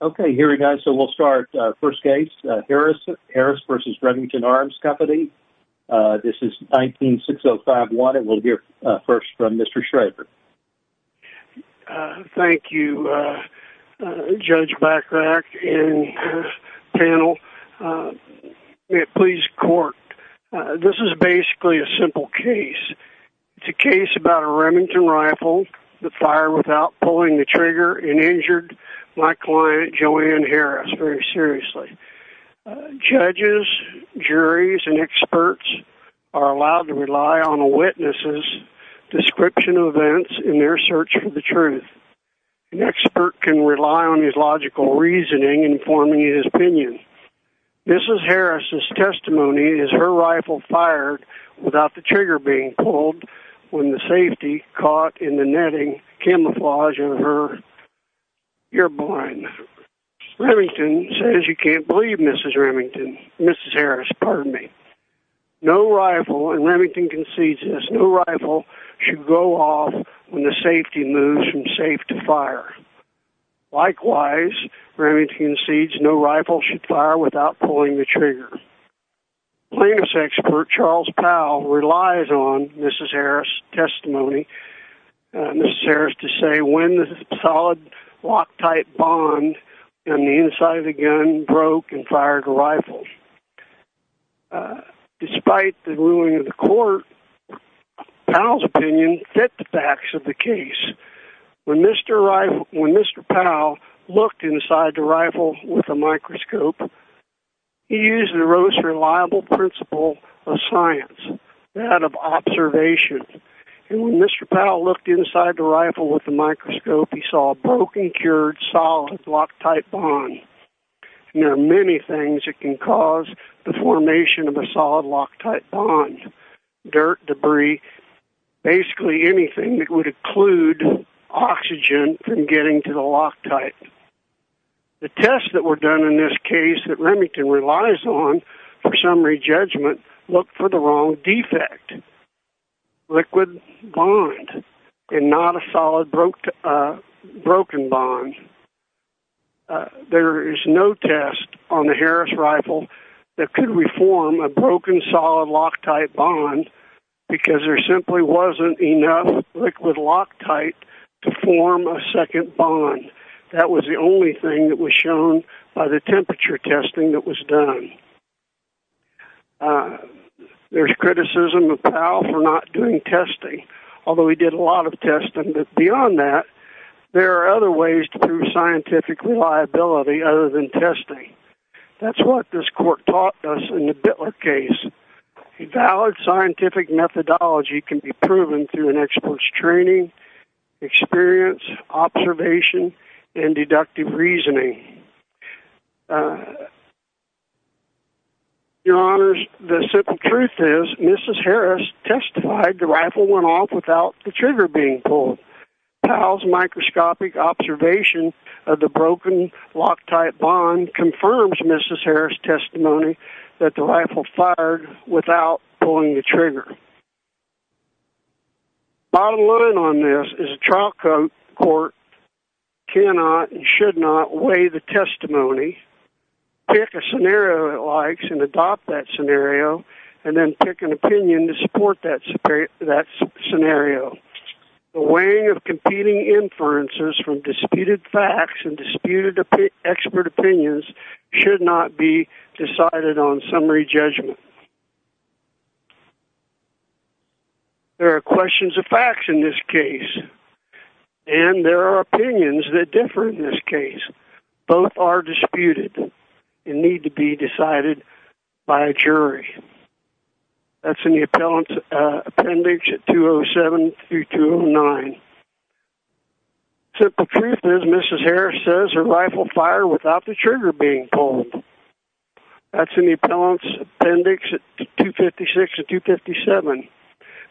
Okay, here we go. So we'll start. First case, Harris versus Remington Arms Company. This is 19-605-1. And we'll hear first from Mr. Schrager. Thank you, Judge Bachrach and panel. May it please court, this is basically a simple case. It's a case about a Remington rifle that fired without pulling the trigger and injured my client Joanne Harris very seriously. Judges, juries, and experts are allowed to rely on a witness's description of events in their search for the truth. An expert can rely on his logical reasoning in forming his opinion. Mrs. Harris's testimony is her rifle fired without the trigger being pulled when the safety caught in the netting camouflage of her ear bone. Remington says you can't believe Mrs. Remington, Mrs. Harris, pardon me. No rifle, and Remington concedes this, no rifle should go off when the safety moves from safe to fire. Likewise, Remington concedes no rifle should fire without pulling the trigger. Plaintiff's expert Charles Powell relies on Mrs. Harris's testimony, Mrs. Harris to say when the solid loctite bond on the inside of the gun broke and fired the rifle. Despite the ruling of the court, Powell's opinion fit the facts of the case. When Mr. Powell looked inside the rifle with a microscope, he saw a broken, cured, solid loctite bond. There are many things that can cause the formation of a solid loctite bond. Dirt, debris, basically anything that would include oxygen from getting to the loctite. The tests that were done in this case that Remington relies on for summary judgment looked for the wrong defect, liquid bond, and not a solid broken bond. There is no test on the Harris rifle that could reform a broken solid loctite bond because there simply wasn't enough liquid loctite to form a second bond. That was the only thing that was shown by the temperature testing that was done. There's criticism of Powell for not doing testing, although he did a lot of testing. But beyond that, there are other ways to prove scientific reliability other than testing. That's what this court taught us in the Bittler case. A valid scientific methodology can be proven through an expert's training, experience, observation, and deductive reasoning. Your Honors, the simple truth is Mrs. Harris testified the rifle went off without the trigger being pulled. Powell's microscopic observation of the broken loctite bond confirms Mrs. Harris' testimony that the rifle fired without pulling the trigger. Bottom line on this is a trial court court cannot and should not weigh the testimony, pick a scenario it likes, and adopt that scenario, and then pick an opinion to support that scenario. The weighing of competing inferences from disputed facts and disputed expert opinions should not be decided on summary judgment. There are questions of facts in this case, and there are opinions that differ in this case. Both are disputed and need to be decided by a jury. That's in the Appellant's Appendix 207-209. The simple truth is Mrs. Harris says her rifle fired without the trigger being pulled. That's in the Appellant's Appendix 256-257.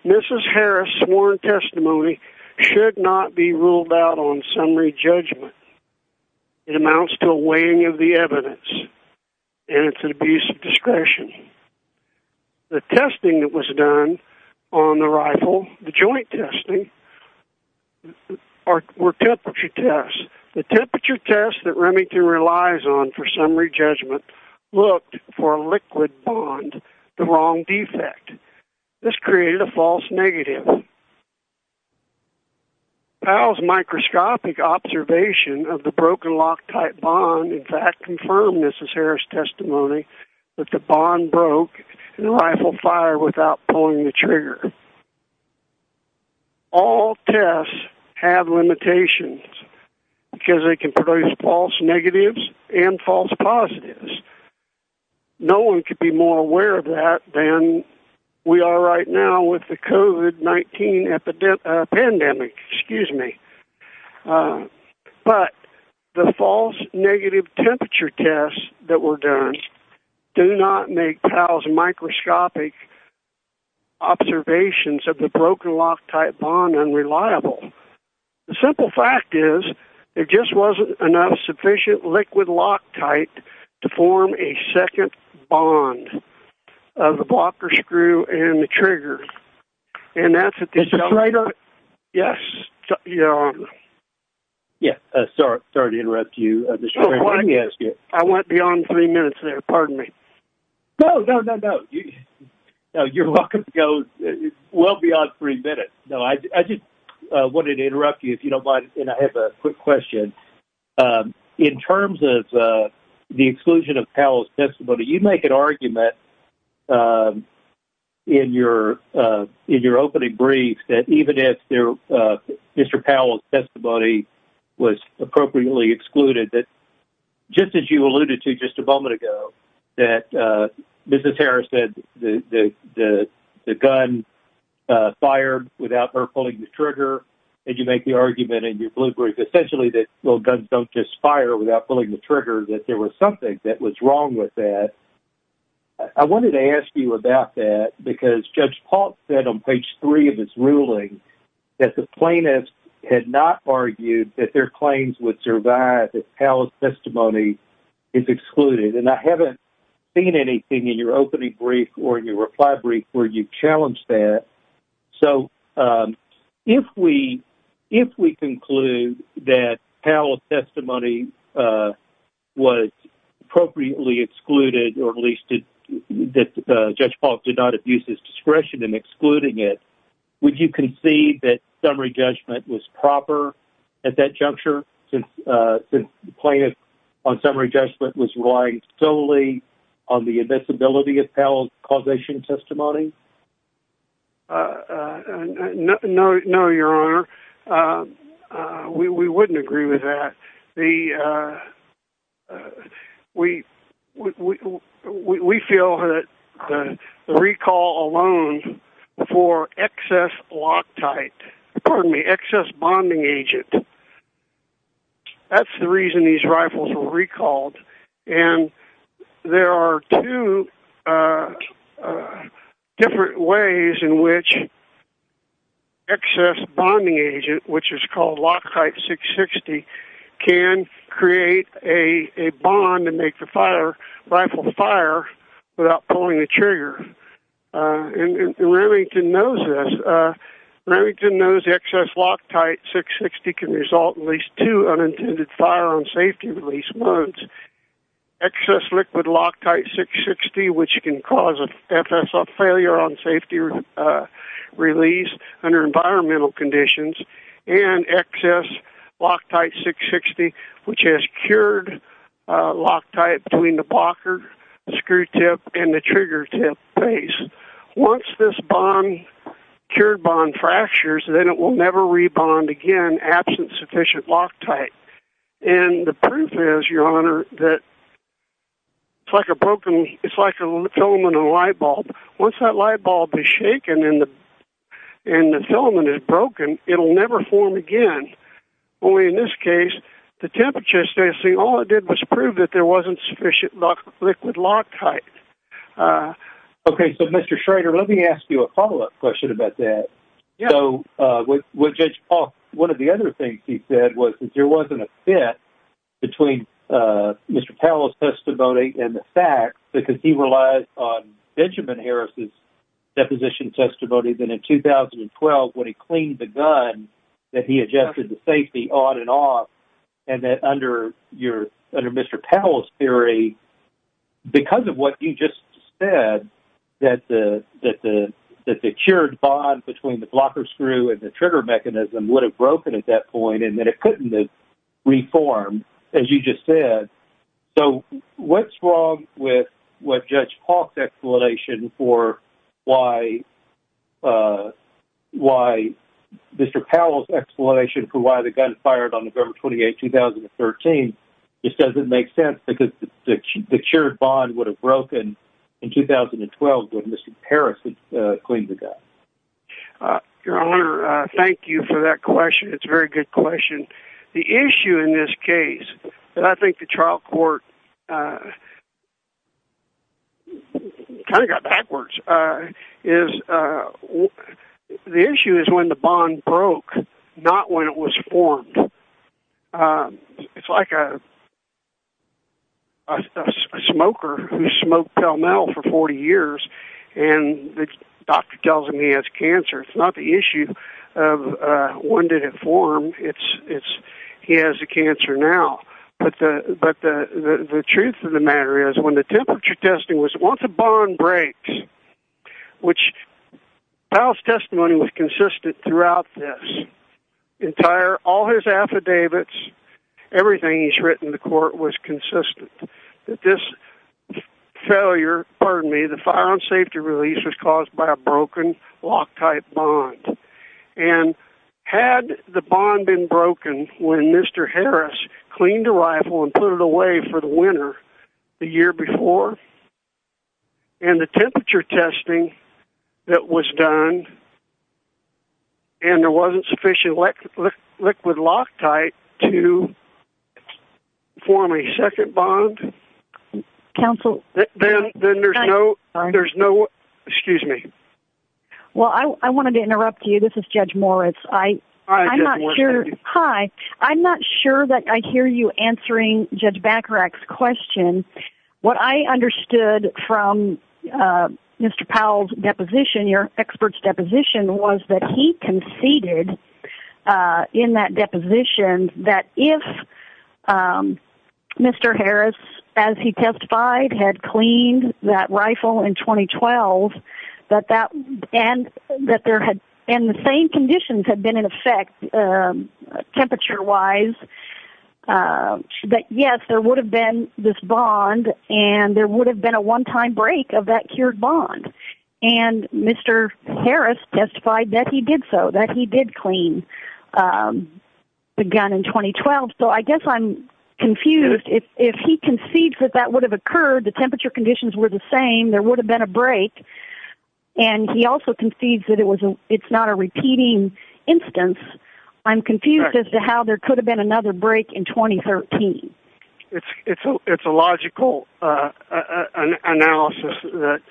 Mrs. Harris' sworn testimony should not be ruled out on summary judgment. It amounts to a weighing of the evidence, and it's an abuse of discretion. The testing that was done on the rifle, the joint testing, were temperature tests. The temperature tests that Remington relies on for summary judgment looked for a liquid bond, the wrong defect. This created a false negative. Powell's microscopic observation of the broken loctite bond in fact confirmed Mrs. Harris' testimony that the bond broke and the rifle fired without pulling the trigger. All tests have limitations because they can produce false negatives and false positives. No one could be more aware of that than we are right now with the COVID-19 pandemic, excuse me. But the false negative temperature tests that were done do not make Powell's microscopic observations of the broken loctite bond unreliable. The simple fact is there just wasn't enough sufficient liquid loctite to form a second bond of the blocker screw and the trigger. And that's at the... Is that all right? Yes, you're on. Yeah, sorry to interrupt you. I went beyond three minutes there, pardon me. No, no, no, no. You're welcome to go well beyond three minutes. No, I just wanted to interrupt you if you don't mind and I have a quick question. In terms of the exclusion of Powell's testimony, you make an argument in your opening brief that even if Mr. Powell's testimony was appropriately excluded, that just as you alluded to just a moment ago, that Mrs. Harris said the gun fired without her pulling the trigger and you make the argument in your blue brief essentially that, well, guns don't just fire without pulling the trigger, that there was something that was wrong with that. I wanted to ask you about that because Judge Paltz said on page three of his ruling that the plaintiffs had not argued that their claims would survive if Powell's testimony is excluded. And I haven't seen anything in your opening brief or in your reply brief where you challenged that. So if we conclude that Powell's testimony was appropriately excluded, or at least that Judge Paltz did not abuse his discretion in excluding it, would you concede that summary judgment was proper at that juncture since the plaintiff on summary judgment was relying solely on the invincibility of Powell's causation testimony? No, your honor. We wouldn't agree with that. We feel that the recall alone for excess loctite, pardon me, excess bonding agent, that's the reason these rifles were recalled. And there are two different ways in which excess bonding agent, which is called loctite 660, can create a bond and make the rifle fire without pulling the trigger. And Remington knows this. Remington knows excess loctite 660 can result in at least two unintended fire on safety release wounds. Excess liquid loctite 660, which can cause a failure on safety release under environmental conditions, and excess loctite 660, which has cured loctite between the blocker, the screw tip, and the trigger tip base. Once this bond, cured bond fractures, then it will never re-bond again, absent sufficient loctite. And the proof is, your honor, that it's like a broken, it's like a filament in a light bulb. Once that light bulb is shaken and the filament is broken, it'll never form again. Only in this case, the temperature testing, all it did was prove that there wasn't sufficient liquid loctite. Okay. So Mr. Schrader, let me ask you a follow-up question about that. So, Judge Paul, one of the other things he said was that there wasn't a fit between Mr. Powell's testimony and the facts, because he relies on Benjamin Harris's deposition testimony. Then in 2012, when he cleaned the gun, that he adjusted the safety on and off. And that under your, under Mr. Powell's theory, because of what you just said, that the cured bond between the blocker screw and the trigger mechanism would have broken at that point, and that it couldn't have reformed, as you just said. So, what's wrong with what Judge Paul's explanation for why Mr. Powell's explanation for why the gun fired on November 12th when Mr. Harris cleaned the gun? Your Honor, thank you for that question. It's a very good question. The issue in this case, and I think the trial court kind of got backwards, is the issue is when the bond broke, not when it was formed. It's like a smoker who smoked Palmetto for 40 years, and the doctor tells him he has cancer. It's not the issue of when did it form, it's he has the cancer now. But the truth of the matter is when the temperature testing was once a bond breaks, which Powell's testimony was consistent throughout this, entire, all his affidavits, everything he's written in the court was consistent, that this failure, pardon me, the firearm safety release was caused by a broken Loctite bond. And had the bond been broken when Mr. Harris cleaned the rifle and put it away for winter the year before, and the temperature testing that was done, and there wasn't sufficient liquid Loctite to form a second bond, then there's no, excuse me. Well, I wanted to interrupt you. This is Judge Moritz. I'm not sure, hi, I'm not sure that I understand this question. What I understood from Mr. Powell's deposition, your expert's deposition, was that he conceded in that deposition that if Mr. Harris, as he testified, had cleaned that rifle in 2012, and the same conditions had been in effect temperature-wise, that yes, there would have been this bond, and there would have been a one-time break of that cured bond. And Mr. Harris testified that he did so, that he did clean the gun in 2012. So I guess I'm confused. If he concedes that that would have occurred, the temperature conditions were the same, there would have been a break, and he also concedes that it's not a repeating instance, I'm confused as to how there could have been another break in 2013. It's a logical analysis that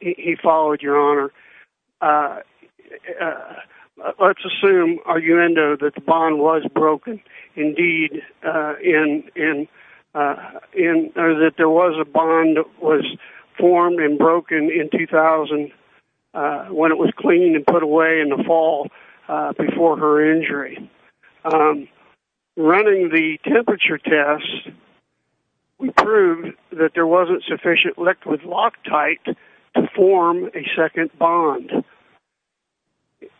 he followed, your honor. Let's assume, Arguendo, that the bond was broken, indeed, and that there was a bond that was formed and broken in 2000 when it was cleaned and put away in the fall before her injury. Running the temperature test, we proved that there wasn't sufficient liquid loctite to form a second bond.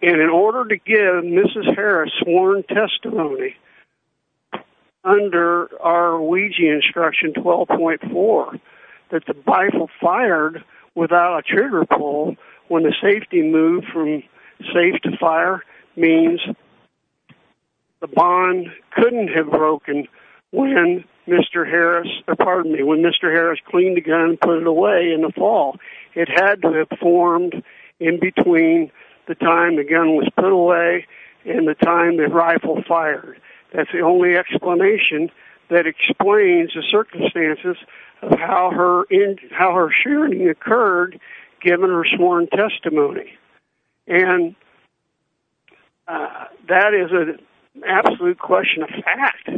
And in order to give Mrs. Harris sworn testimony under our Ouija instruction 12.4, that the rifle fired without a trigger pull when the safety moved from safe to fire means the bond couldn't have broken when Mr. Harris cleaned the gun and put it away in the fall. It had to have formed in between the time the gun was put away and the time the rifle fired. That's the only explanation that explains the circumstances of how her sharing occurred, given her sworn testimony. And that is an absolute question of fact.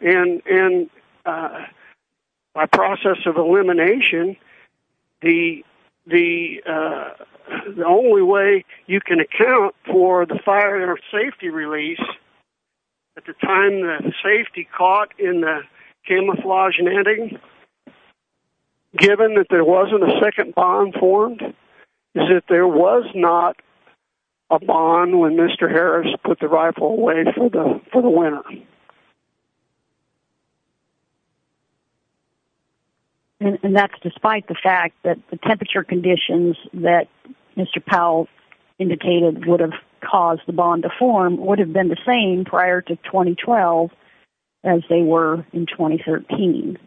And by process of elimination, the only way you can account for the fire safety release at the time that the safety caught in the camouflage netting, given that there wasn't a second bond formed, is that there was not a bond when Mr. Harris put the rifle away for the winter. And that's despite the fact that the temperature conditions that Mr. Powell indicated would have caused the bond to form would have been the same prior to 2012 as they were in 2013.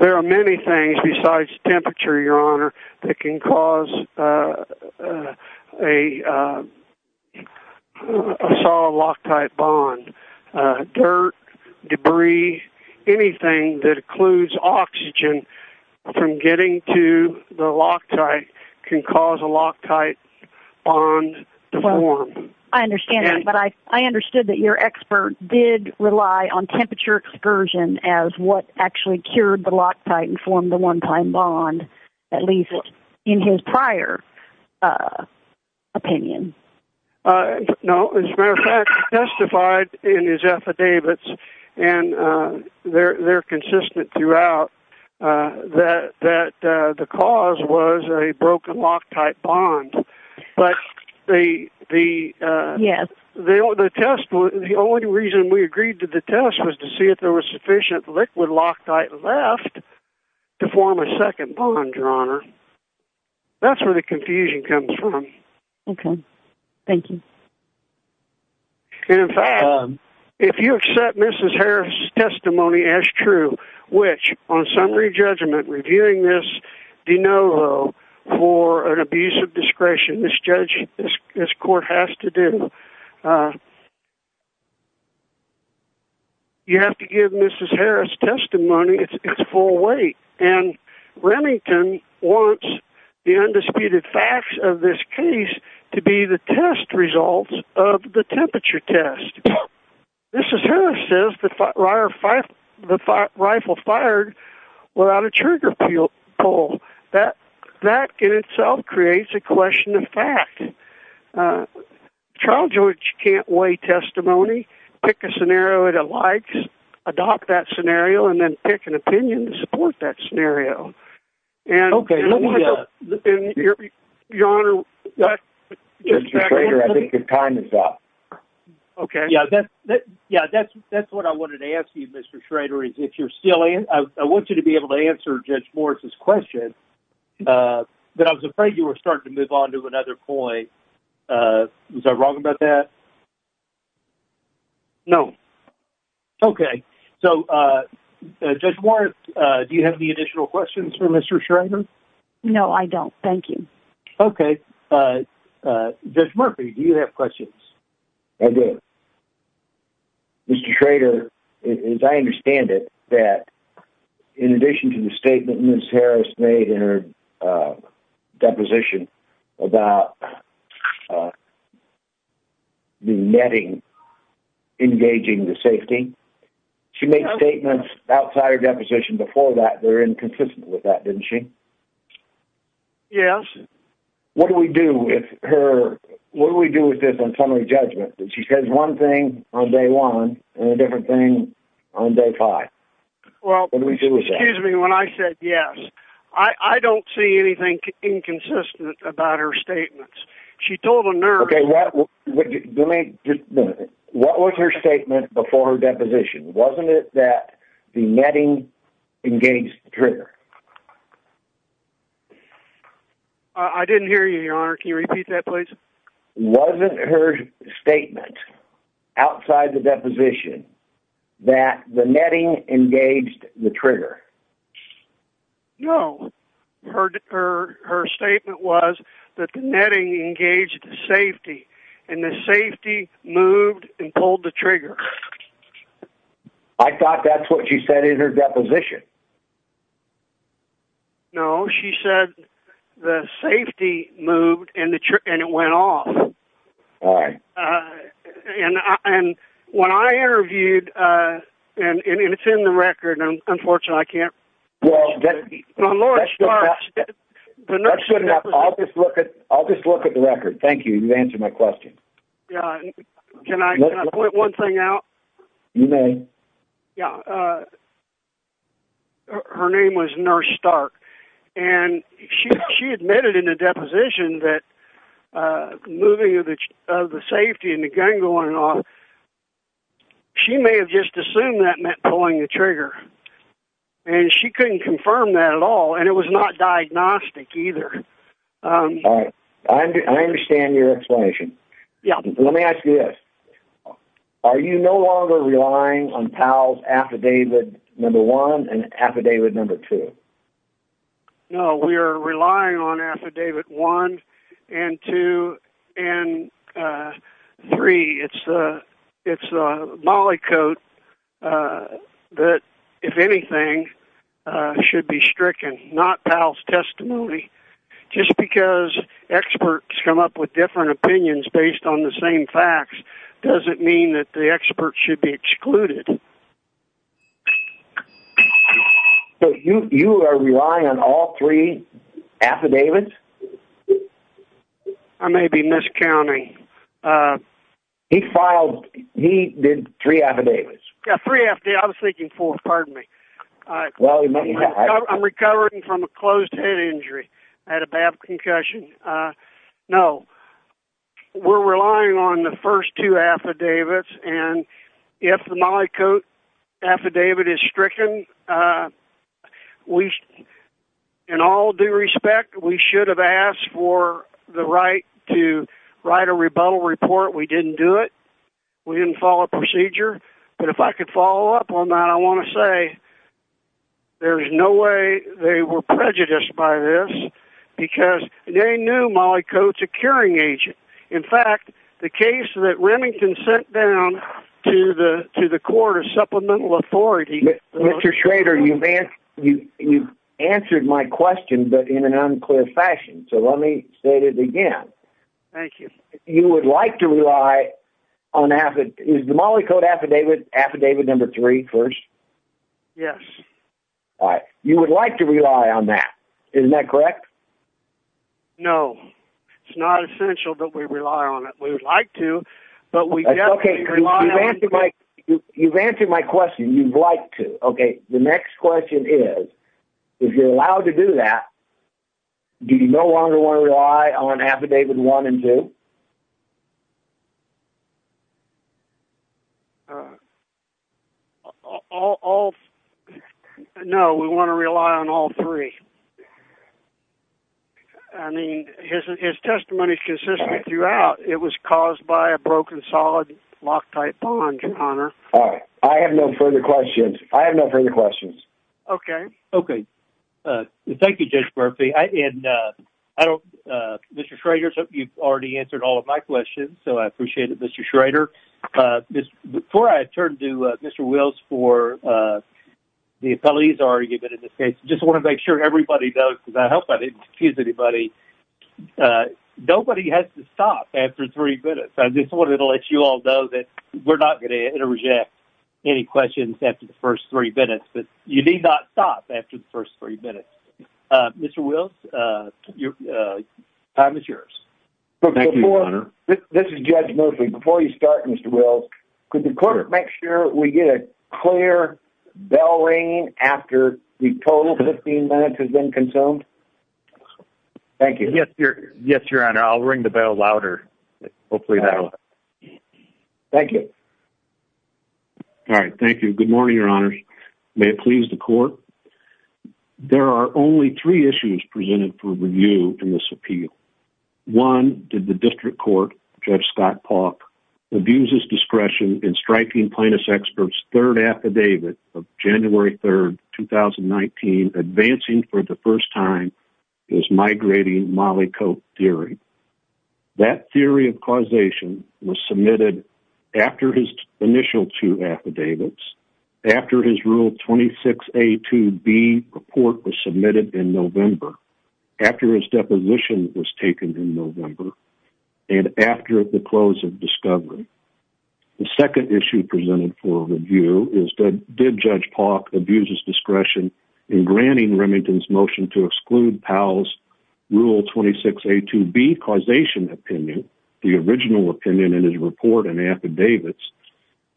There are many things besides temperature, Your Honor, that can cause a solid loctite bond. Dirt, debris, anything that includes oxygen from getting to the loctite can cause a loctite bond to form. I understand that, but I understood that your expert did rely on temperature excursion as what actually cured the loctite and formed the one-time bond, at least in his prior opinion. No, as a matter of fact, he testified in his affidavits, and they're consistent throughout, that the cause was a broken loctite bond. But the only reason we agreed to the test was to see if there was sufficient liquid loctite left to form a second bond, Your Honor. That's where the confusion comes from. Okay, thank you. And, in fact, if you accept Mrs. Harris' testimony as true, which, on summary judgment, reviewing this de novo for an abuse of discretion, this court has to do, you have to give Mrs. Harris' testimony its full weight. And Remington wants the temperature test. Mrs. Harris says the rifle fired without a trigger pull, that in itself creates a question of fact. Charles George can't weigh testimony, pick a scenario that he likes, adopt that scenario, and then pick an opinion to support that scenario. Okay. Mr. Schrader, I think your time is up. Okay. Yeah, that's what I wanted to ask you, Mr. Schrader, is if you're still in. I want you to be able to answer Judge Morris' question, but I was afraid you were starting to move on to another point. Was I wrong about that? No. Okay. So, Judge Morris, do you have any additional questions for Mr. Schrader? No, I don't. Thank you. Okay. Judge Murphy, do you have questions? I do. Mr. Schrader, as I understand it, that in addition to the statement Mrs. Harris made in her about the netting engaging the safety, she made statements outside her deposition before that that are inconsistent with that, didn't she? Yes. What do we do with her? What do we do with this on summary judgment? She says one thing on day one and a different thing on day five. What do we do with that? When I said yes, I don't see anything inconsistent about her statements. She told a nurse... Okay. What was her statement before her deposition? Wasn't it that the netting engaged the trigger? I didn't hear you, Your Honor. Can you repeat that, please? Wasn't her statement outside the deposition that the netting engaged the trigger? No. Her statement was that the netting engaged the safety, and the safety moved and pulled the trigger. I thought that's what she said in her deposition. No. She said the safety moved and it went off. All right. And when I interviewed, and it's in the record, unfortunately I can't... Well, that's good enough. I'll just look at the record. Thank you. You've answered my question. Can I point one thing out? You may. Yeah. Her name was Nurse Stark, and she admitted in the deposition that moving of the safety and the gun going off, she may have just assumed that meant pulling the trigger. And she couldn't confirm that at all, and it was not diagnostic either. All right. I understand your explanation. Let me ask you this. Are you no longer relying on Powell's affidavit number one and affidavit number two? No. We are relying on affidavit one and two and three. It's a mollycoat that, if anything, should be stricken, not Powell's testimony. Just because experts come up with different opinions based on the same facts doesn't mean that the experts should be excluded. So you are relying on all three affidavits? I may be miscounting. He did three affidavits. Yeah, three affidavits. I was thinking four. Pardon me. I'm recovering from a closed head injury. I had a bad concussion. No. We're relying on the first two affidavits, and if the mollycoat affidavit is stricken, in all due respect, we should have asked for the right to write a rebuttal report. We didn't do it. We didn't follow procedure. But if I could follow up on that, I want to say there's no way they were prejudiced by this because they knew mollycoat's a curing agent. In fact, the case that Remington sent down to the to the court of supplemental authority... Mr. Schrader, you've answered my question, but in an unclear fashion. So let me state it again. Thank you. You would like to rely on... Is the mollycoat affidavit number three first? Yes. All right. You would like to rely on that. Isn't that correct? No. It's not essential that we rely on it. We would like to, but we... Okay. You've answered my question. You'd like to. Okay. The next question is, if you're allowed to do that, do you no longer want to rely on affidavit one and two? No. We want to rely on all three. I mean, his testimony is consistent throughout. It was caused by a broken solid loctite bond, your honor. All right. I have no further questions. I have no further questions. Okay. Okay. Thank you, Judge Murphy. And I don't... Mr. Schrader, you've already answered all of my questions, so I appreciate it, Mr. Schrader. Before I turn to Mr. Wills for the appellate he's already given in this case, I just want to make sure everybody knows, because I hope I didn't confuse anybody, nobody has to stop after three minutes. I just wanted to let you all know that we're not going to interject any questions after the first three minutes, but you need not stop after the first three minutes. Mr. Wills, time is yours. Thank you, your honor. This is Judge Murphy. Before you start, Mr. Wills, could the court make sure we get a clear bell ringing after the total 15 minutes has been consumed? Thank you. Yes, your honor. I'll ring the bell louder. Hopefully that'll... Thank you. All right. Thank you. Good morning, your honors. May it please the court. There are only three issues presented for review in this appeal. One, did the district court, Judge Scott Paulk, abuse his discretion in striking plaintiff's expert's third affidavit of January 3rd, 2019, advancing for the first time his migrating Molly Cope theory? That theory of causation was submitted after his initial two affidavits, after his rule 26A2B report was submitted in November, after his deposition was taken in November, and after the close of discovery. The second issue presented for review is, did Judge Paulk abuse his discretion in granting Remington's motion to exclude Powell's rule 26A2B causation opinion, the original opinion in his report and affidavits,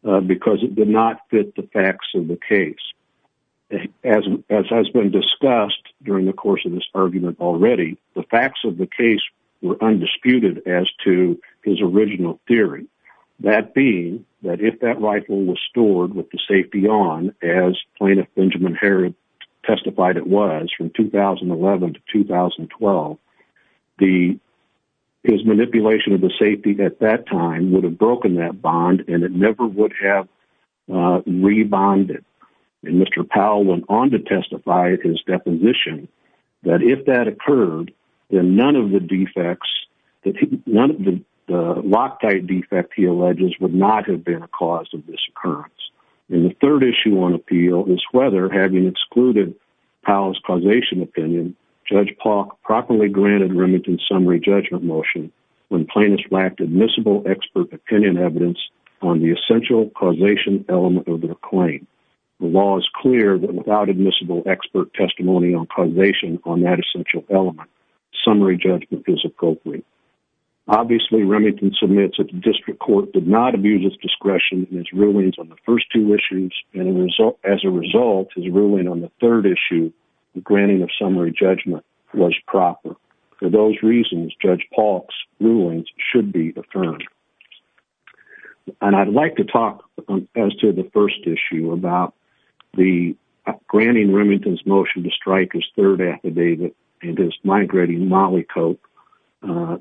because it did not fit the facts of the case. As has been discussed during the course of this argument already, the facts of the case were undisputed as to his original theory. That being that if that rifle was stored with the safety on, as plaintiff Benjamin Herod testified it was from 2011 to 2012, his manipulation of the Mr. Powell went on to testify at his deposition that if that occurred, then none of the defects, none of the Loctite defect he alleges would not have been a cause of this occurrence. And the third issue on appeal is whether having excluded Powell's causation opinion, Judge Paulk properly granted Remington's summary judgment motion when plaintiffs lacked admissible expert opinion evidence on the essential causation element of their claim. The law is clear that without admissible expert testimony on causation on that essential element, summary judgment is appropriate. Obviously Remington submits that the district court did not abuse his discretion in his rulings on the first two issues, and as a result, his ruling on the third issue, the granting of summary judgment was proper. For those reasons, Judge Paulk's rulings should be affirmed. And I'd like to talk as to the first issue about the granting Remington's motion to strike his third affidavit and his migrating Molly Cope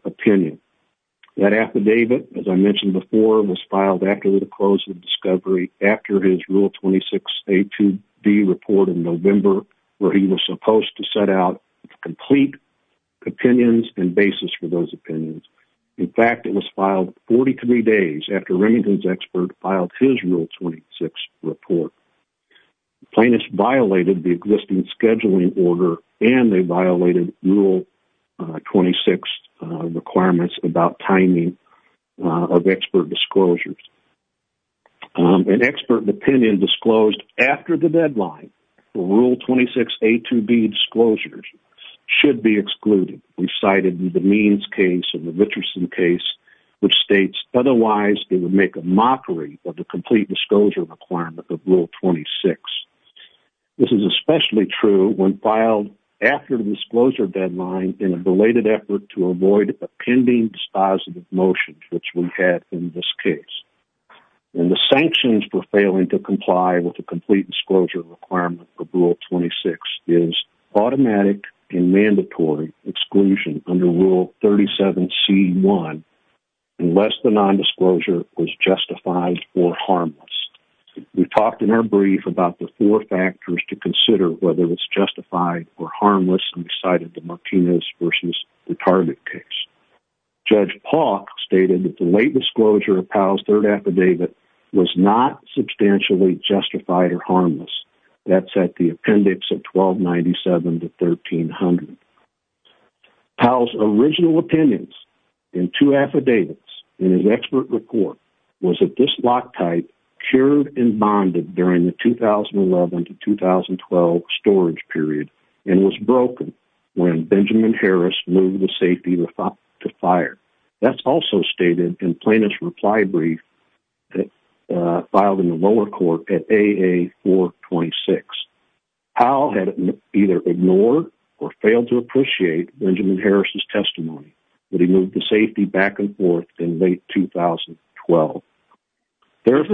opinion. That affidavit, as I mentioned before, was filed after the close of discovery, after his rule 26 A2B report in November, where he was supposed to set out complete opinions and basis for those opinions. In fact, it was filed 43 days after Remington's expert filed his rule 26 report. Plaintiffs violated the existing scheduling order, and they violated rule 26 requirements about timing of expert disclosures. An expert opinion disclosed after the deadline, rule 26 A2B disclosures should be excluded. We cited the Means case and the Richardson case, which states, otherwise they would make a mockery of the complete disclosure requirement of rule 26. This is especially true when filed after the disclosure deadline in a belated effort to avoid a pending dispositive motion, which we had in this case. And the sanctions for failing to comply with the complete disclosure requirement of rule 26 is automatic and mandatory exclusion under rule 37 C1, unless the nondisclosure was justified or harmless. We talked in our brief about the four factors to consider whether it's justified or harmless, and we cited the Martinez versus the Target case. Judge Paulk stated that the late disclosure of Powell's third affidavit was not substantially justified or harmless. That's at the appendix of 1297 to 1300. Powell's original opinions in two affidavits in his expert report was that this block type cured and bonded during the 2011 to 2012 storage period and was broken when Benjamin Harris moved the safety to fire. That's also stated in plaintiff's reply brief that filed in the lower court at AA 426. Powell had either ignored or failed to appreciate Benjamin Harris's testimony when he moved the safety back and made 2012. Isn't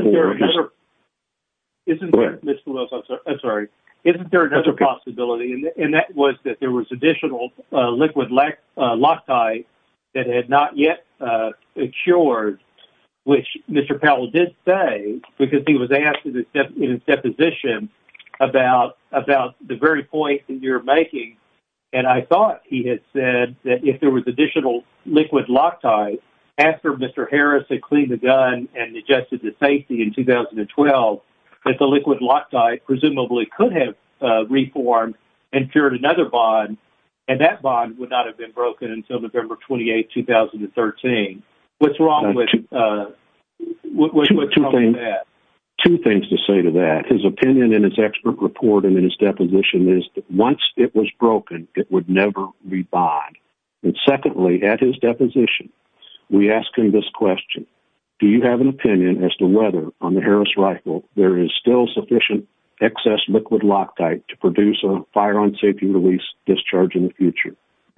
there another possibility, and that was that there was additional liquid loctite that had not yet cured, which Mr. Powell did say because he was asked in his deposition about the very point that you're making, and I thought he had said that if there was additional liquid loctite after Mr. Harris had cleaned the gun and adjusted the safety in 2012, that the liquid loctite presumably could have reformed and cured another bond, and that bond would not have been broken until November 28, 2013. What's wrong with that? Two things to say to that. His opinion in his expert report and in his deposition is that once it was broken, it would never re-bond. And secondly, at his deposition, we ask him this question. Do you have an opinion as to whether on the Harris rifle there is still sufficient excess liquid loctite to produce a fire-on-safety-release discharge in the future?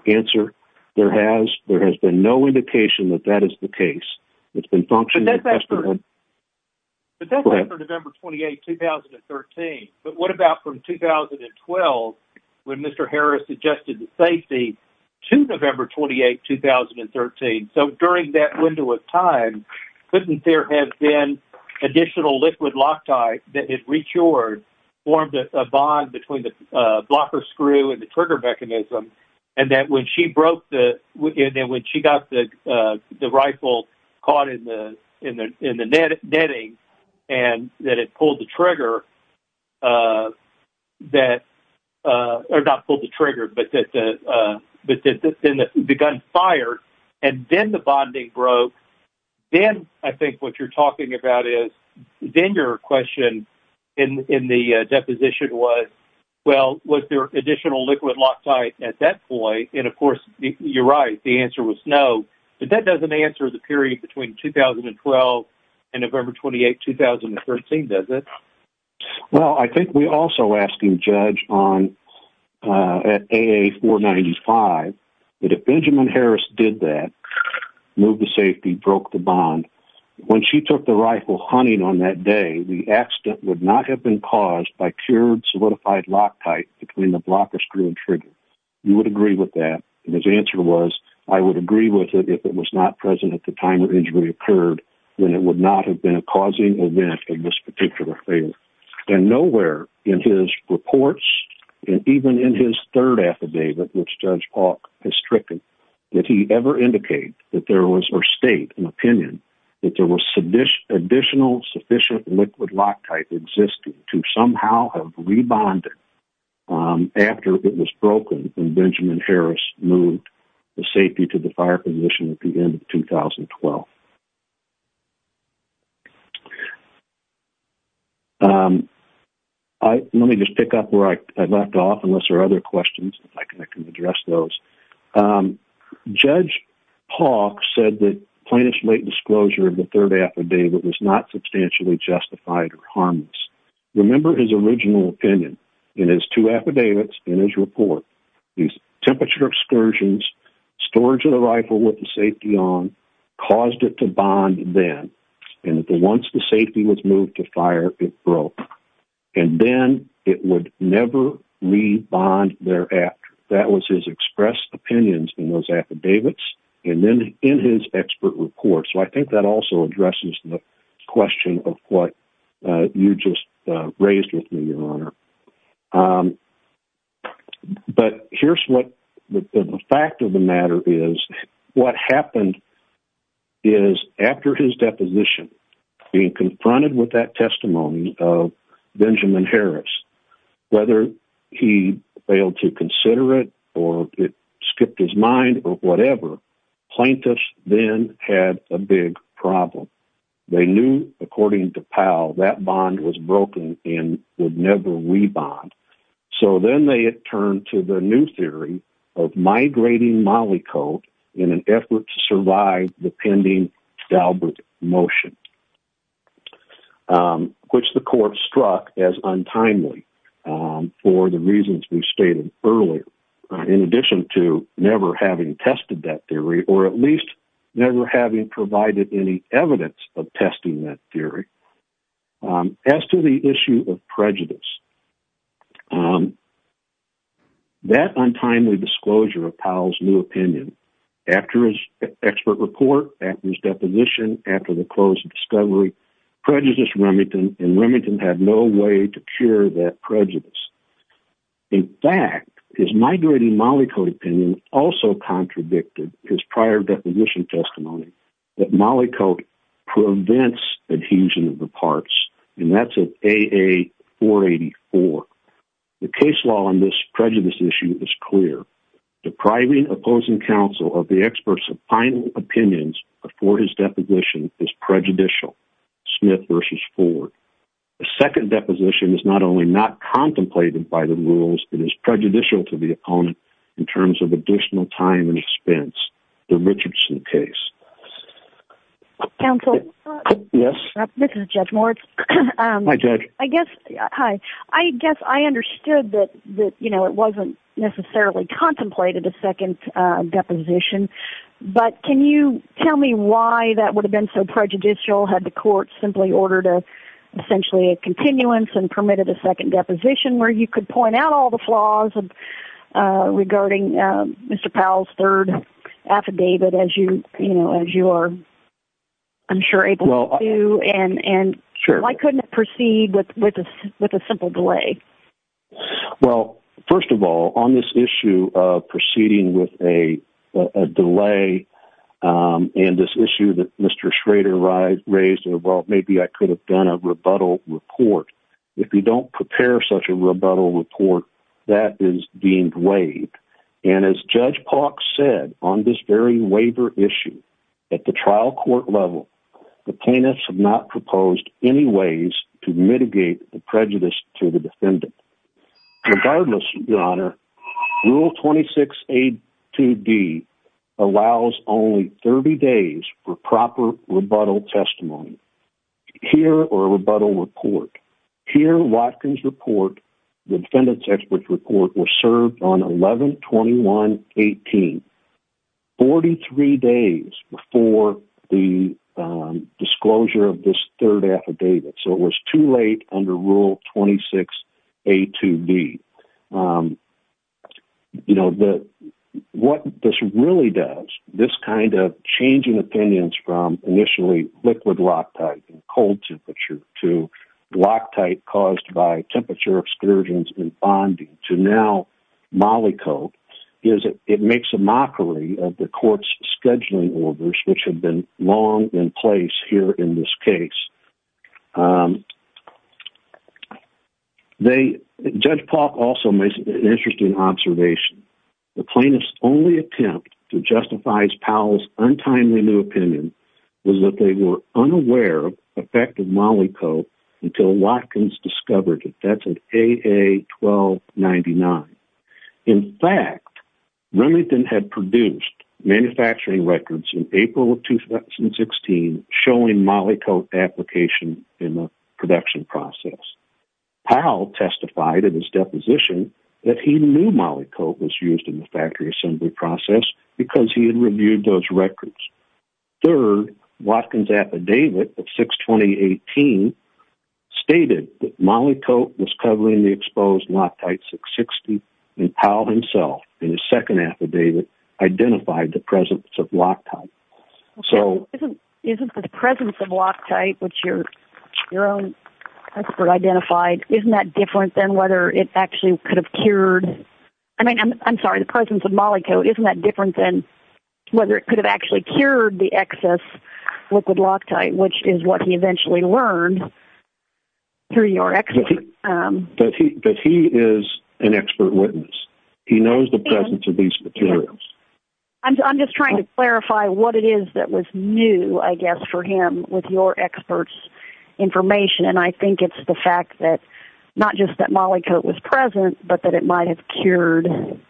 Answer, there has been no indication that that is the case. It's been functioning... But that's after November 28, 2013. But what about from 2012 when Mr. Harris adjusted the safety to November 28, 2013? So during that window of time, couldn't there have been additional liquid loctite that had re-cured, formed a bond between the blocker screw and the trigger mechanism, and that when she broke the... And then when she got the rifle caught in the netting and that it pulled the trigger that... Or not pulled the trigger, but that the gun fired, and then the bonding broke, then I think what you're talking about is... Then your question in the deposition was, well, was there additional liquid loctite at that point? And of course, you're right, the answer was no. But that doesn't answer the period between 2012 and November 28, 2013, does it? Well, I think we're also asking Judge on... At AA-495, that if Benjamin Harris did that, moved the safety, broke the bond, when she took the rifle hunting on that day, the accident would not have been caused by cured, solidified loctite between the blocker screw and trigger. You would agree with that. And his answer was, I would agree with it if it was not present at the time the injury occurred, when it would not have been a causing event of this particular failure. And nowhere in his reports, and even in his third affidavit, which Judge Paulk has stricken, did he ever indicate that there was, or state an opinion, that there was additional sufficient liquid loctite existing to somehow have rebonded after it was broken when Benjamin Harris moved the safety to the fire position at the end of 2012. Let me just pick up where I left off, unless there are other questions, if I can address those. Judge Paulk said that plaintiff's late disclosure of the third affidavit was not substantially justified or harmless. Remember his original opinion. In his two affidavits, in his report, these temperature excursions, storage of the rifle with the safety on, caused it to bond then. And once the safety was moved to fire, it broke. And then it would never rebond thereafter. That was his expressed opinions in those affidavits, and then in his expert report. So I think that also addresses the question of what you just raised with me, Your Honor. But here's what the fact of the matter is. What happened is, after his deposition, being confronted with that testimony of Benjamin Harris, whether he failed to consider it, or it skipped his mind, or whatever, plaintiffs then had a big problem. They knew, according to Powell, that bond was broken and would never rebond. So then they had turned to the new theory of migrating mollicoat in an effort to survive the pending Dalbert motion, which the court struck as untimely for the reasons we stated earlier, in addition to never having tested that theory, or at least never having provided any evidence of testing that untimely disclosure of Powell's new opinion. After his expert report, after his deposition, after the closed discovery, prejudice Remington, and Remington had no way to cure that prejudice. In fact, his migrating mollicoat opinion also contradicted his prior deposition testimony, that mollicoat prevents adhesion of the parts, and that's an AA484. The case law on this prejudice issue is clear. Depriving opposing counsel of the experts of final opinions before his deposition is prejudicial. Smith versus Ford. The second deposition is not only not contemplated by the rules, it is prejudicial to the opponent in terms of additional time and expense, the Richardson case. Counsel? Yes. This is Judge Moritz. Hi, Judge. I guess, hi. I guess I understood that, you know, it wasn't necessarily contemplated a second deposition, but can you tell me why that would have been so prejudicial? Had the court simply ordered essentially a continuance and permitted a second deposition where you could point out all the flaws of regarding Mr. Powell's third affidavit as you, you know, as you are, I'm sure, able to, and why couldn't it proceed with a simple delay? Well, first of all, on this issue of proceeding with a delay and this issue that Mr. Schrader raised, well, maybe I could have done a rebuttal report. If you don't prepare such a rebuttal report that is being waived. And as Judge Pauk said on this very waiver issue at the trial court level, the plaintiffs have not proposed any ways to mitigate the prejudice to the defendant. Regardless, your honor rule 26, A2B allows only 30 days for proper rebuttal testimony here or a rebuttal report here. Watkins report, the defendant's experts report was served on 11, 21, 18, 43 days before the disclosure of this third affidavit. So it was too late under rule 26, A2B. Um, you know, the, what this really does, this kind of changing opinions from initially liquid loctite and cold temperature to loctite caused by temperature excursions and bonding to now molly coat is it makes a mockery of the court's scheduling orders, which have been long in place here in this case. Um, they judge Paul also makes an interesting observation. The plaintiff's only attempt to justifies Powell's untimely new opinion was that they were unaware of effective molly coat until Watkins discovered it. That's an AA 1299. In fact, Remington had produced manufacturing records in April of 2016, showing Molly coat application in the production process. Powell testified in his deposition that he knew Molly coat was used in the factory assembly process because he had reviewed those records. Third Watkins affidavit of six 2018 stated that Molly coat was covering the exposed loctite six 60 and Powell himself in his second affidavit identified the presence of loctite. So isn't the presence of loctite, which you're your own expert identified, isn't that different than whether it actually could have cured? I mean, I'm sorry, the presence of Molly coat, isn't that different than whether it could have actually cured the excess liquid loctite, which is what he eventually learned through your expert. But he is an expert witness. He knows the presence of these materials. I'm just trying to clarify what it is that was new, I guess, for him with your experts information. And I think it's the fact that not just that Molly coat was present, but that it might have cured,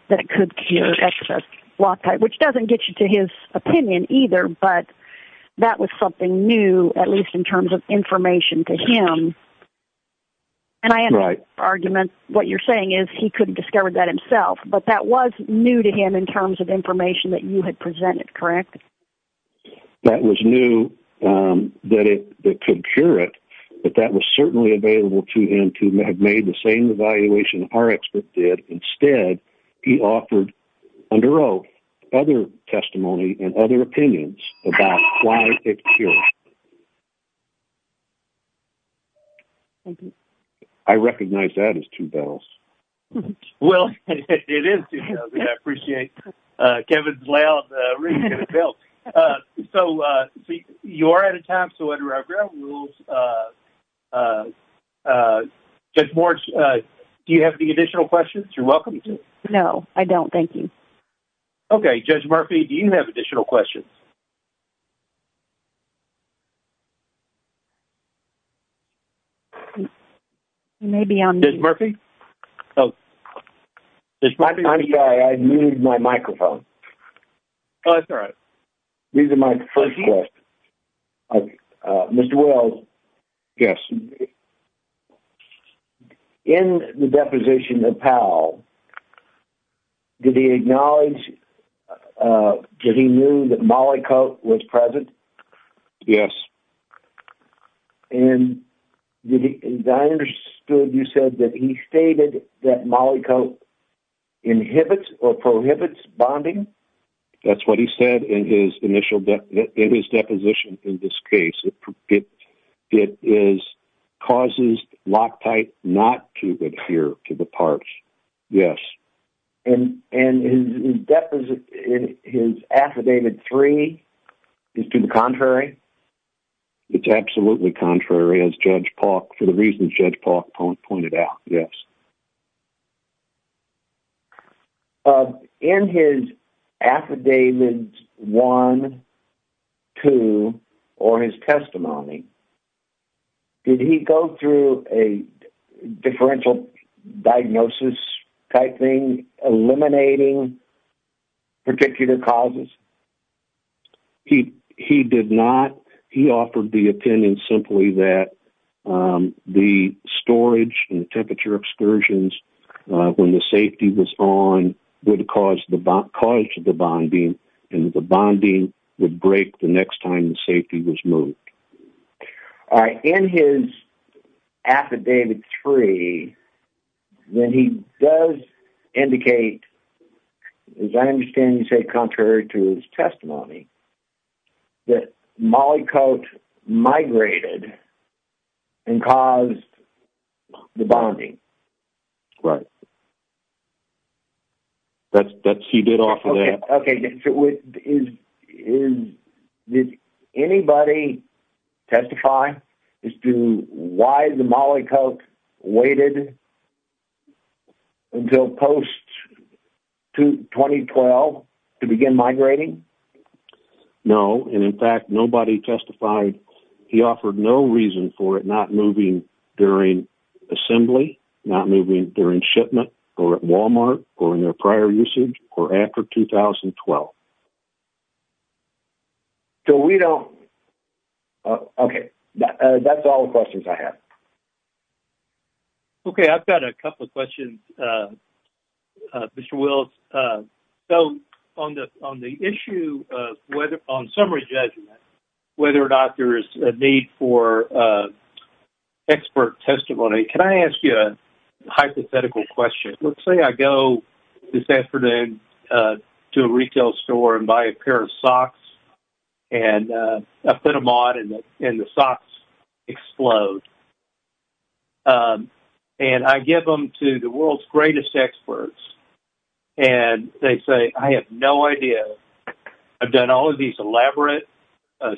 that it could cure excess loctite, which doesn't get you to his opinion either. But that was something new, at least in terms of information to him. And I am right argument, what you're saying is he couldn't discover that himself. But that was new to him in terms of information that you had presented, correct? That was new, that it could cure it. But that was certainly available to him to have made the same evaluation our expert did. Instead, he offered, under oath, other testimony and other opinions about why it cured. I recognize that as two bells. Well, it is two bells, and I appreciate Kevin's layout of the ring and the bell. So, you are out of time. So, under our ground rules, Judge Moritz, do you have any additional questions? You're welcome to. No, I don't. Thank you. Okay. Judge Murphy, do you have additional questions? Maybe I'm- Judge Murphy? This might be- I'm sorry, I moved my microphone. Oh, that's all right. These are my first questions. Mr. Wells? Yes. In the deposition of Powell, did he acknowledge, did he know that mollicoat was present? Yes. And did he, as I understood, you said that he stated that mollicoat inhibits or prohibits bonding? That's what he said in his initial, in his deposition in this case. It causes loctite not to adhere to the parts. Yes. And his affidavit three is to the contrary? It's absolutely contrary, as Judge Paulk, for the reasons Judge Paulk pointed out. Yes. Okay. In his affidavits one, two, or his testimony, did he go through a differential diagnosis-type thing, eliminating particular causes? He did not. He offered the opinion simply that the storage and the temperature excursions when the safety was on would cause the bonding, and the bonding would break the next time the safety was moved. All right. In his affidavit three, then he does indicate, as I understand you say, contrary to his testimony, that mollicoat migrated and caused the bonding. Right. That's what he did off of that. Okay. Did anybody testify as to why the mollicoat waited until post-2012 to begin migrating? No, and in fact, nobody testified. He offered no reason for it not moving during assembly, not moving during shipment, or at Walmart, or in their prior usage, or after 2012. So we don't... Okay. That's all the questions I have. Okay. I've got a couple of questions, Mr. Wills. So on the issue of whether, on summary judgment, whether or not there is a need for expert testimony, can I ask you a hypothetical question? Let's say I go this afternoon to a retail store and buy a pair of socks, and I put them on, and the socks explode. And I give them to the world's greatest experts, and they say, I have no idea. I've done all of these elaborate,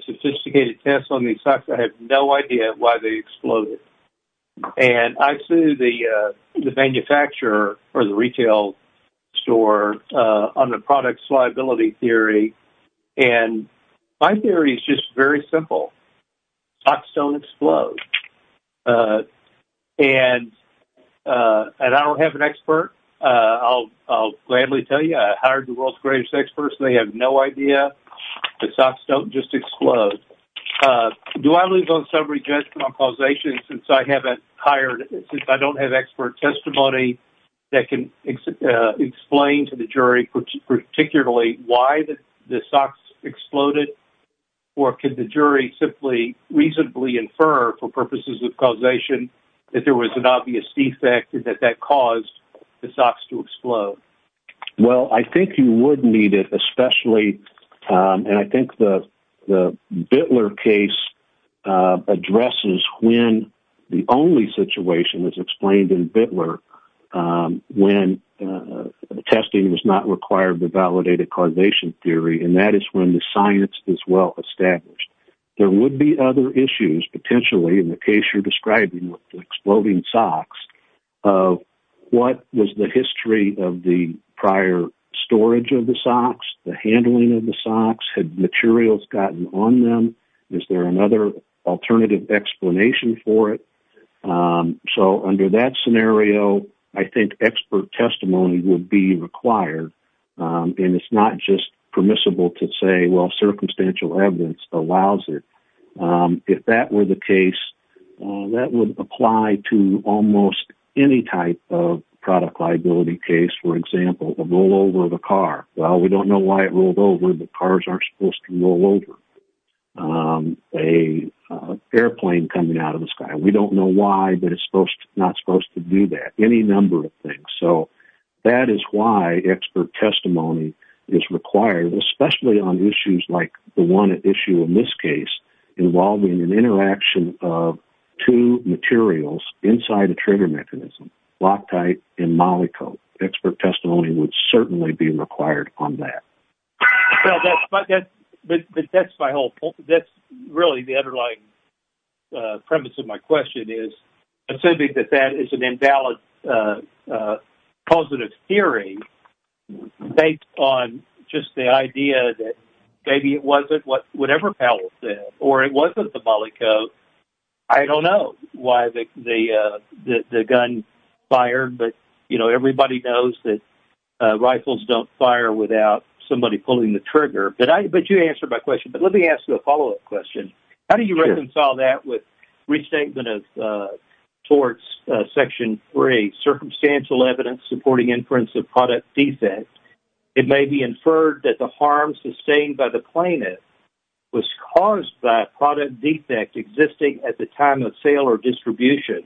sophisticated tests on these socks. I have no idea why they exploded. And I sue the manufacturer or the retail store on the product's liability theory, and my theory is just very simple. Socks don't explode. And I don't have an expert. I'll gladly tell you, I hired the world's greatest experts, and they have no idea. The socks don't just explode. Do I lose on summary judgment on causation since I haven't hired...since I don't have expert testimony that can explain to the jury, particularly, why the socks exploded? Or can the jury simply reasonably infer for purposes of causation that there was an obvious defect and that that caused the socks to explode? Well, I think you would need it, especially, and I think the Bittler case addresses when the only situation is explained in Bittler when testing does not require the validated causation theory, and that is when the science is well established. There would be other issues, potentially, in the case you're describing with exploding socks of what was the history of the prior storage of the socks, the handling of the socks. Had materials gotten on them? Is there another alternative explanation for it? So under that scenario, I think expert testimony would be required, and it's not just permissible to say, well, circumstantial evidence allows it. If that were the case, that would apply to almost any type of product liability case, for example, a rollover of a car. Well, we don't know why it rolled over, but cars aren't supposed to roll over. An airplane coming out of the sky. We don't know why, but it's not supposed to do that. Any number of things. So that is why expert testimony is required, especially on issues like the one issue in this case involving an interaction of two materials inside a trigger mechanism, Loctite and Molycote. Expert testimony would certainly be required on that. That's really the underlying premise of my question is assuming that that is an invalid positive theory based on just the idea that maybe it wasn't whatever Powell said, or it wasn't the Molycote. I don't know why the gun fired, but everybody knows that rifles don't fire without somebody pulling the trigger. But you answered my question. But let me ask you a follow-up question. How do you reconcile that with restatement of Section 3, Circumstantial Evidence Supporting Inference of Product Defect? It may be inferred that the harm sustained by the plaintiff was caused by a product defect existing at the time of sale or distribution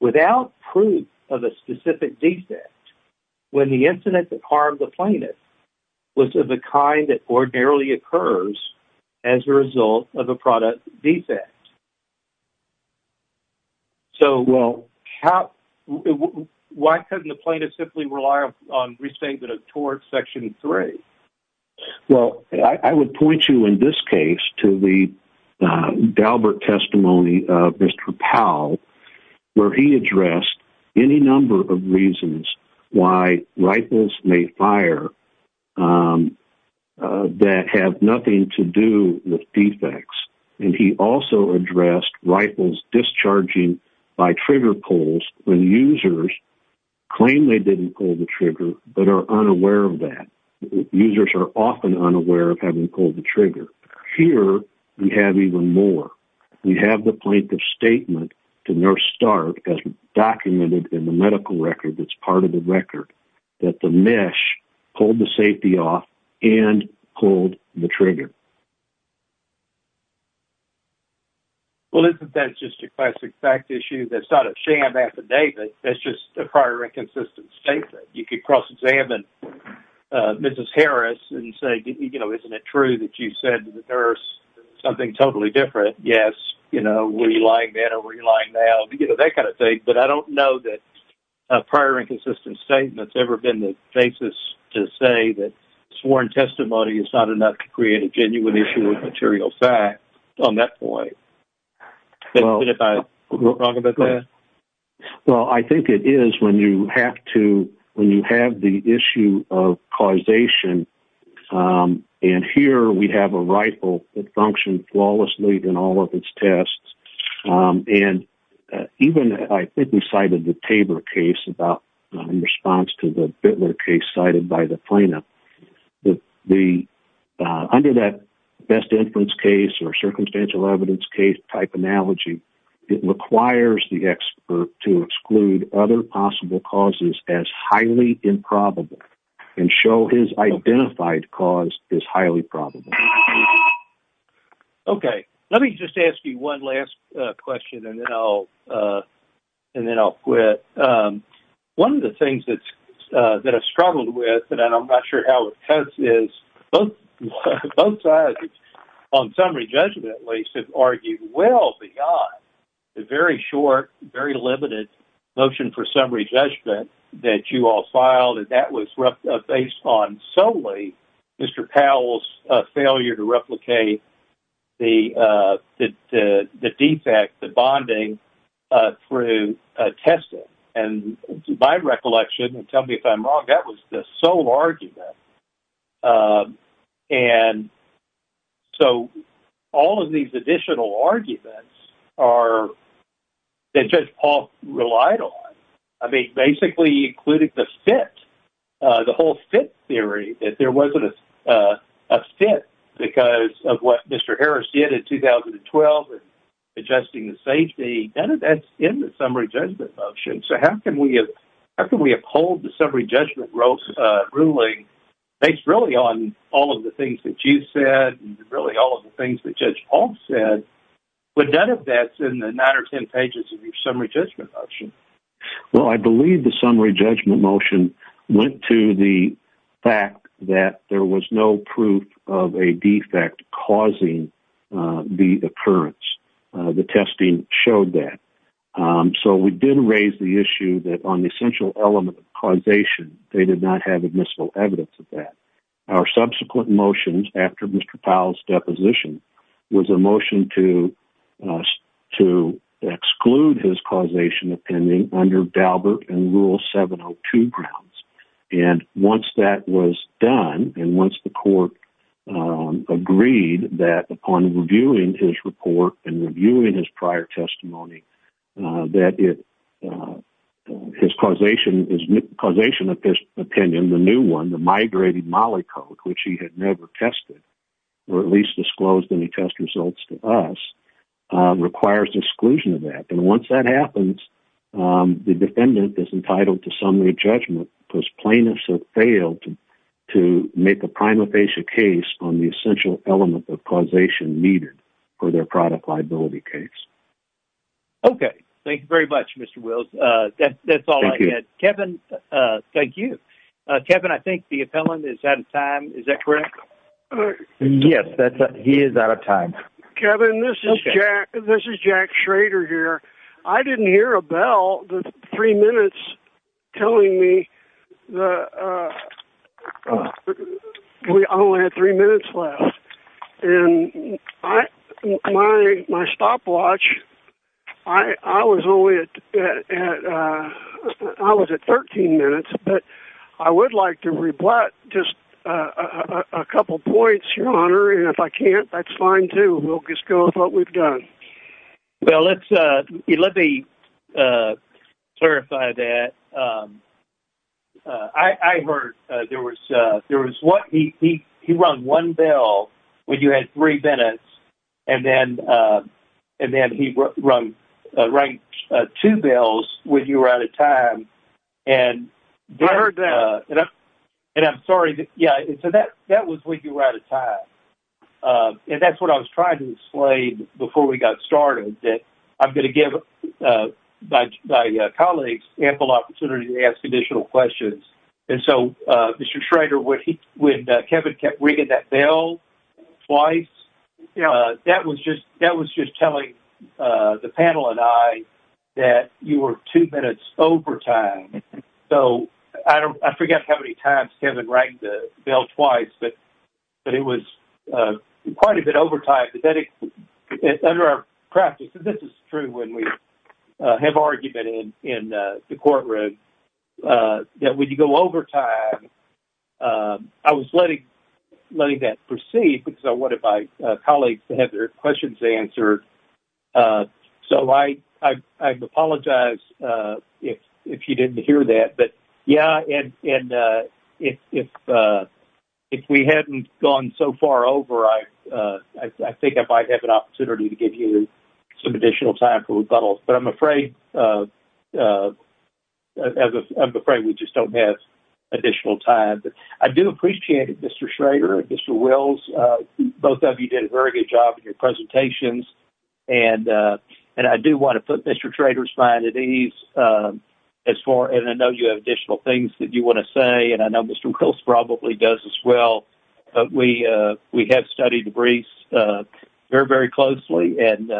without proof of a specific defect when the incident that harmed the plaintiff was of the kind that ordinarily occurs as a result of a product defect. Why doesn't the plaintiff simply rely on restatement of Section 3? Well, I would point you in this case to the Daubert testimony of Mr. Powell, where he addressed any number of reasons why rifles may fire that have nothing to do with when users claim they didn't pull the trigger but are unaware of that. Users are often unaware of having pulled the trigger. Here, we have even more. We have the plaintiff's statement to Nurse Starr, as documented in the medical record that's part of the record, that the mesh pulled the safety off and pulled the trigger. Well, isn't that just a classic fact issue? That's not a sham affidavit. That's just a prior and consistent statement. You could cross-examine Mrs. Harris and say, you know, isn't it true that you said to the nurse something totally different? Yes, you know, were you lying then or were you lying now? You know, that kind of thing. But I don't know that a prior and consistent statement has ever been the basis to say that sworn testimony is not enough to create a genuine issue of material fact on that point. If I'm wrong about that? Well, I think it is when you have to, when you have the issue of causation. And here, we have a rifle that functioned flawlessly in all of its tests. And even, I think we cited the Tabor case in response to the Bittler case cited by the plaintiff. Under that best inference case or circumstantial evidence case type analogy, it requires the expert to exclude other possible causes as highly improbable and show his identified cause as highly probable. Okay. Let me just ask you one last question and then I'll quit. One of the things that I've struggled with, and I'm not sure how it cuts, is both sides, on summary judgment at least, have argued well beyond the very short, very limited motion for summary judgment that you to replicate the defect, the bonding, through testing. And to my recollection, and tell me if I'm wrong, that was the sole argument. And so, all of these additional arguments are, that Judge Paul relied on. I mean, basically, he included the fit, the whole fit theory, that there wasn't a fit because of what Mr. Harris did in 2012 in adjusting the safety. None of that's in the summary judgment motion. So, how can we uphold the summary judgment ruling based really on all of the things that you said and really all of the things that Judge Paul said? But none of that's in the nine or 10 pages of your summary judgment motion. Well, I believe the summary judgment motion went to the fact that there was no proof of a defect causing the occurrence. The testing showed that. So, we did raise the issue that on the essential element of causation, they did not have admissible evidence of that. Our subsequent motions after Mr. Powell's deposition was a motion to exclude his causation opinion under Daubert and Rule 702 grounds. And once that was done, and once the court agreed that upon reviewing his report and reviewing his prior testimony, that his causation opinion, the new one, the never tested, or at least disclosed any test results to us, requires exclusion of that. And once that happens, the defendant is entitled to summary judgment because plaintiffs have failed to make a prima facie case on the essential element of causation needed for their product liability case. Okay. Thank you very much, Mr. Wills. That's all I had. Thank you. Kevin, I think the appellant is out of time. Is that correct? Yes, he is out of time. Kevin, this is Jack Schrader here. I didn't hear a bell the three minutes telling me that we only had three minutes left. And I, my stopwatch, I was only at, I was at 13 minutes, but I would like to rebut just a couple points, Your Honor. And if I can't, that's fine too. We'll just go with what we've done. Well, let's, let me clarify that. I heard there was, there was one, he, he, he rang one bell when you had three minutes and then, and then he rang two bells when you were out of time. And I heard that. And I'm sorry. Yeah. So that, that was when you were out of time. And that's what I was trying to explain before we got started, that I'm going to give my colleagues ample opportunity to ask additional questions. And so, Mr. Schrader, when he, when Kevin kept ringing that bell twice, that was just, that was just telling the panel and I that you were two minutes over time. So I don't, I forget how many times Kevin rang the bell twice, but, but it was quite a bit over time. But then under our practice, and this is true when we have argument in, in the courtroom, that when you go over time, I was letting, letting that proceed because I wanted my colleagues to have their questions answered. So I, I, I apologize if, if you didn't hear that, but yeah. And, and if, if, if we hadn't gone so far over, I, I think I might have an opportunity to give you some additional time but I'm afraid, I'm afraid we just don't have additional time. But I do appreciate it, Mr. Schrader and Mr. Wills, both of you did a very good job in your presentations. And, and I do want to put Mr. Schrader's mind at ease as far, and I know you have additional things that you want to say, and I know Mr. Wills probably does as well, but we, we have studied the briefs very, very closely and,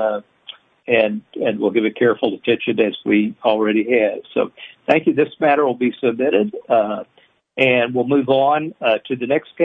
and, and we'll give it careful attention as we already have. So thank you. This matter will be submitted and we'll move on to the next case.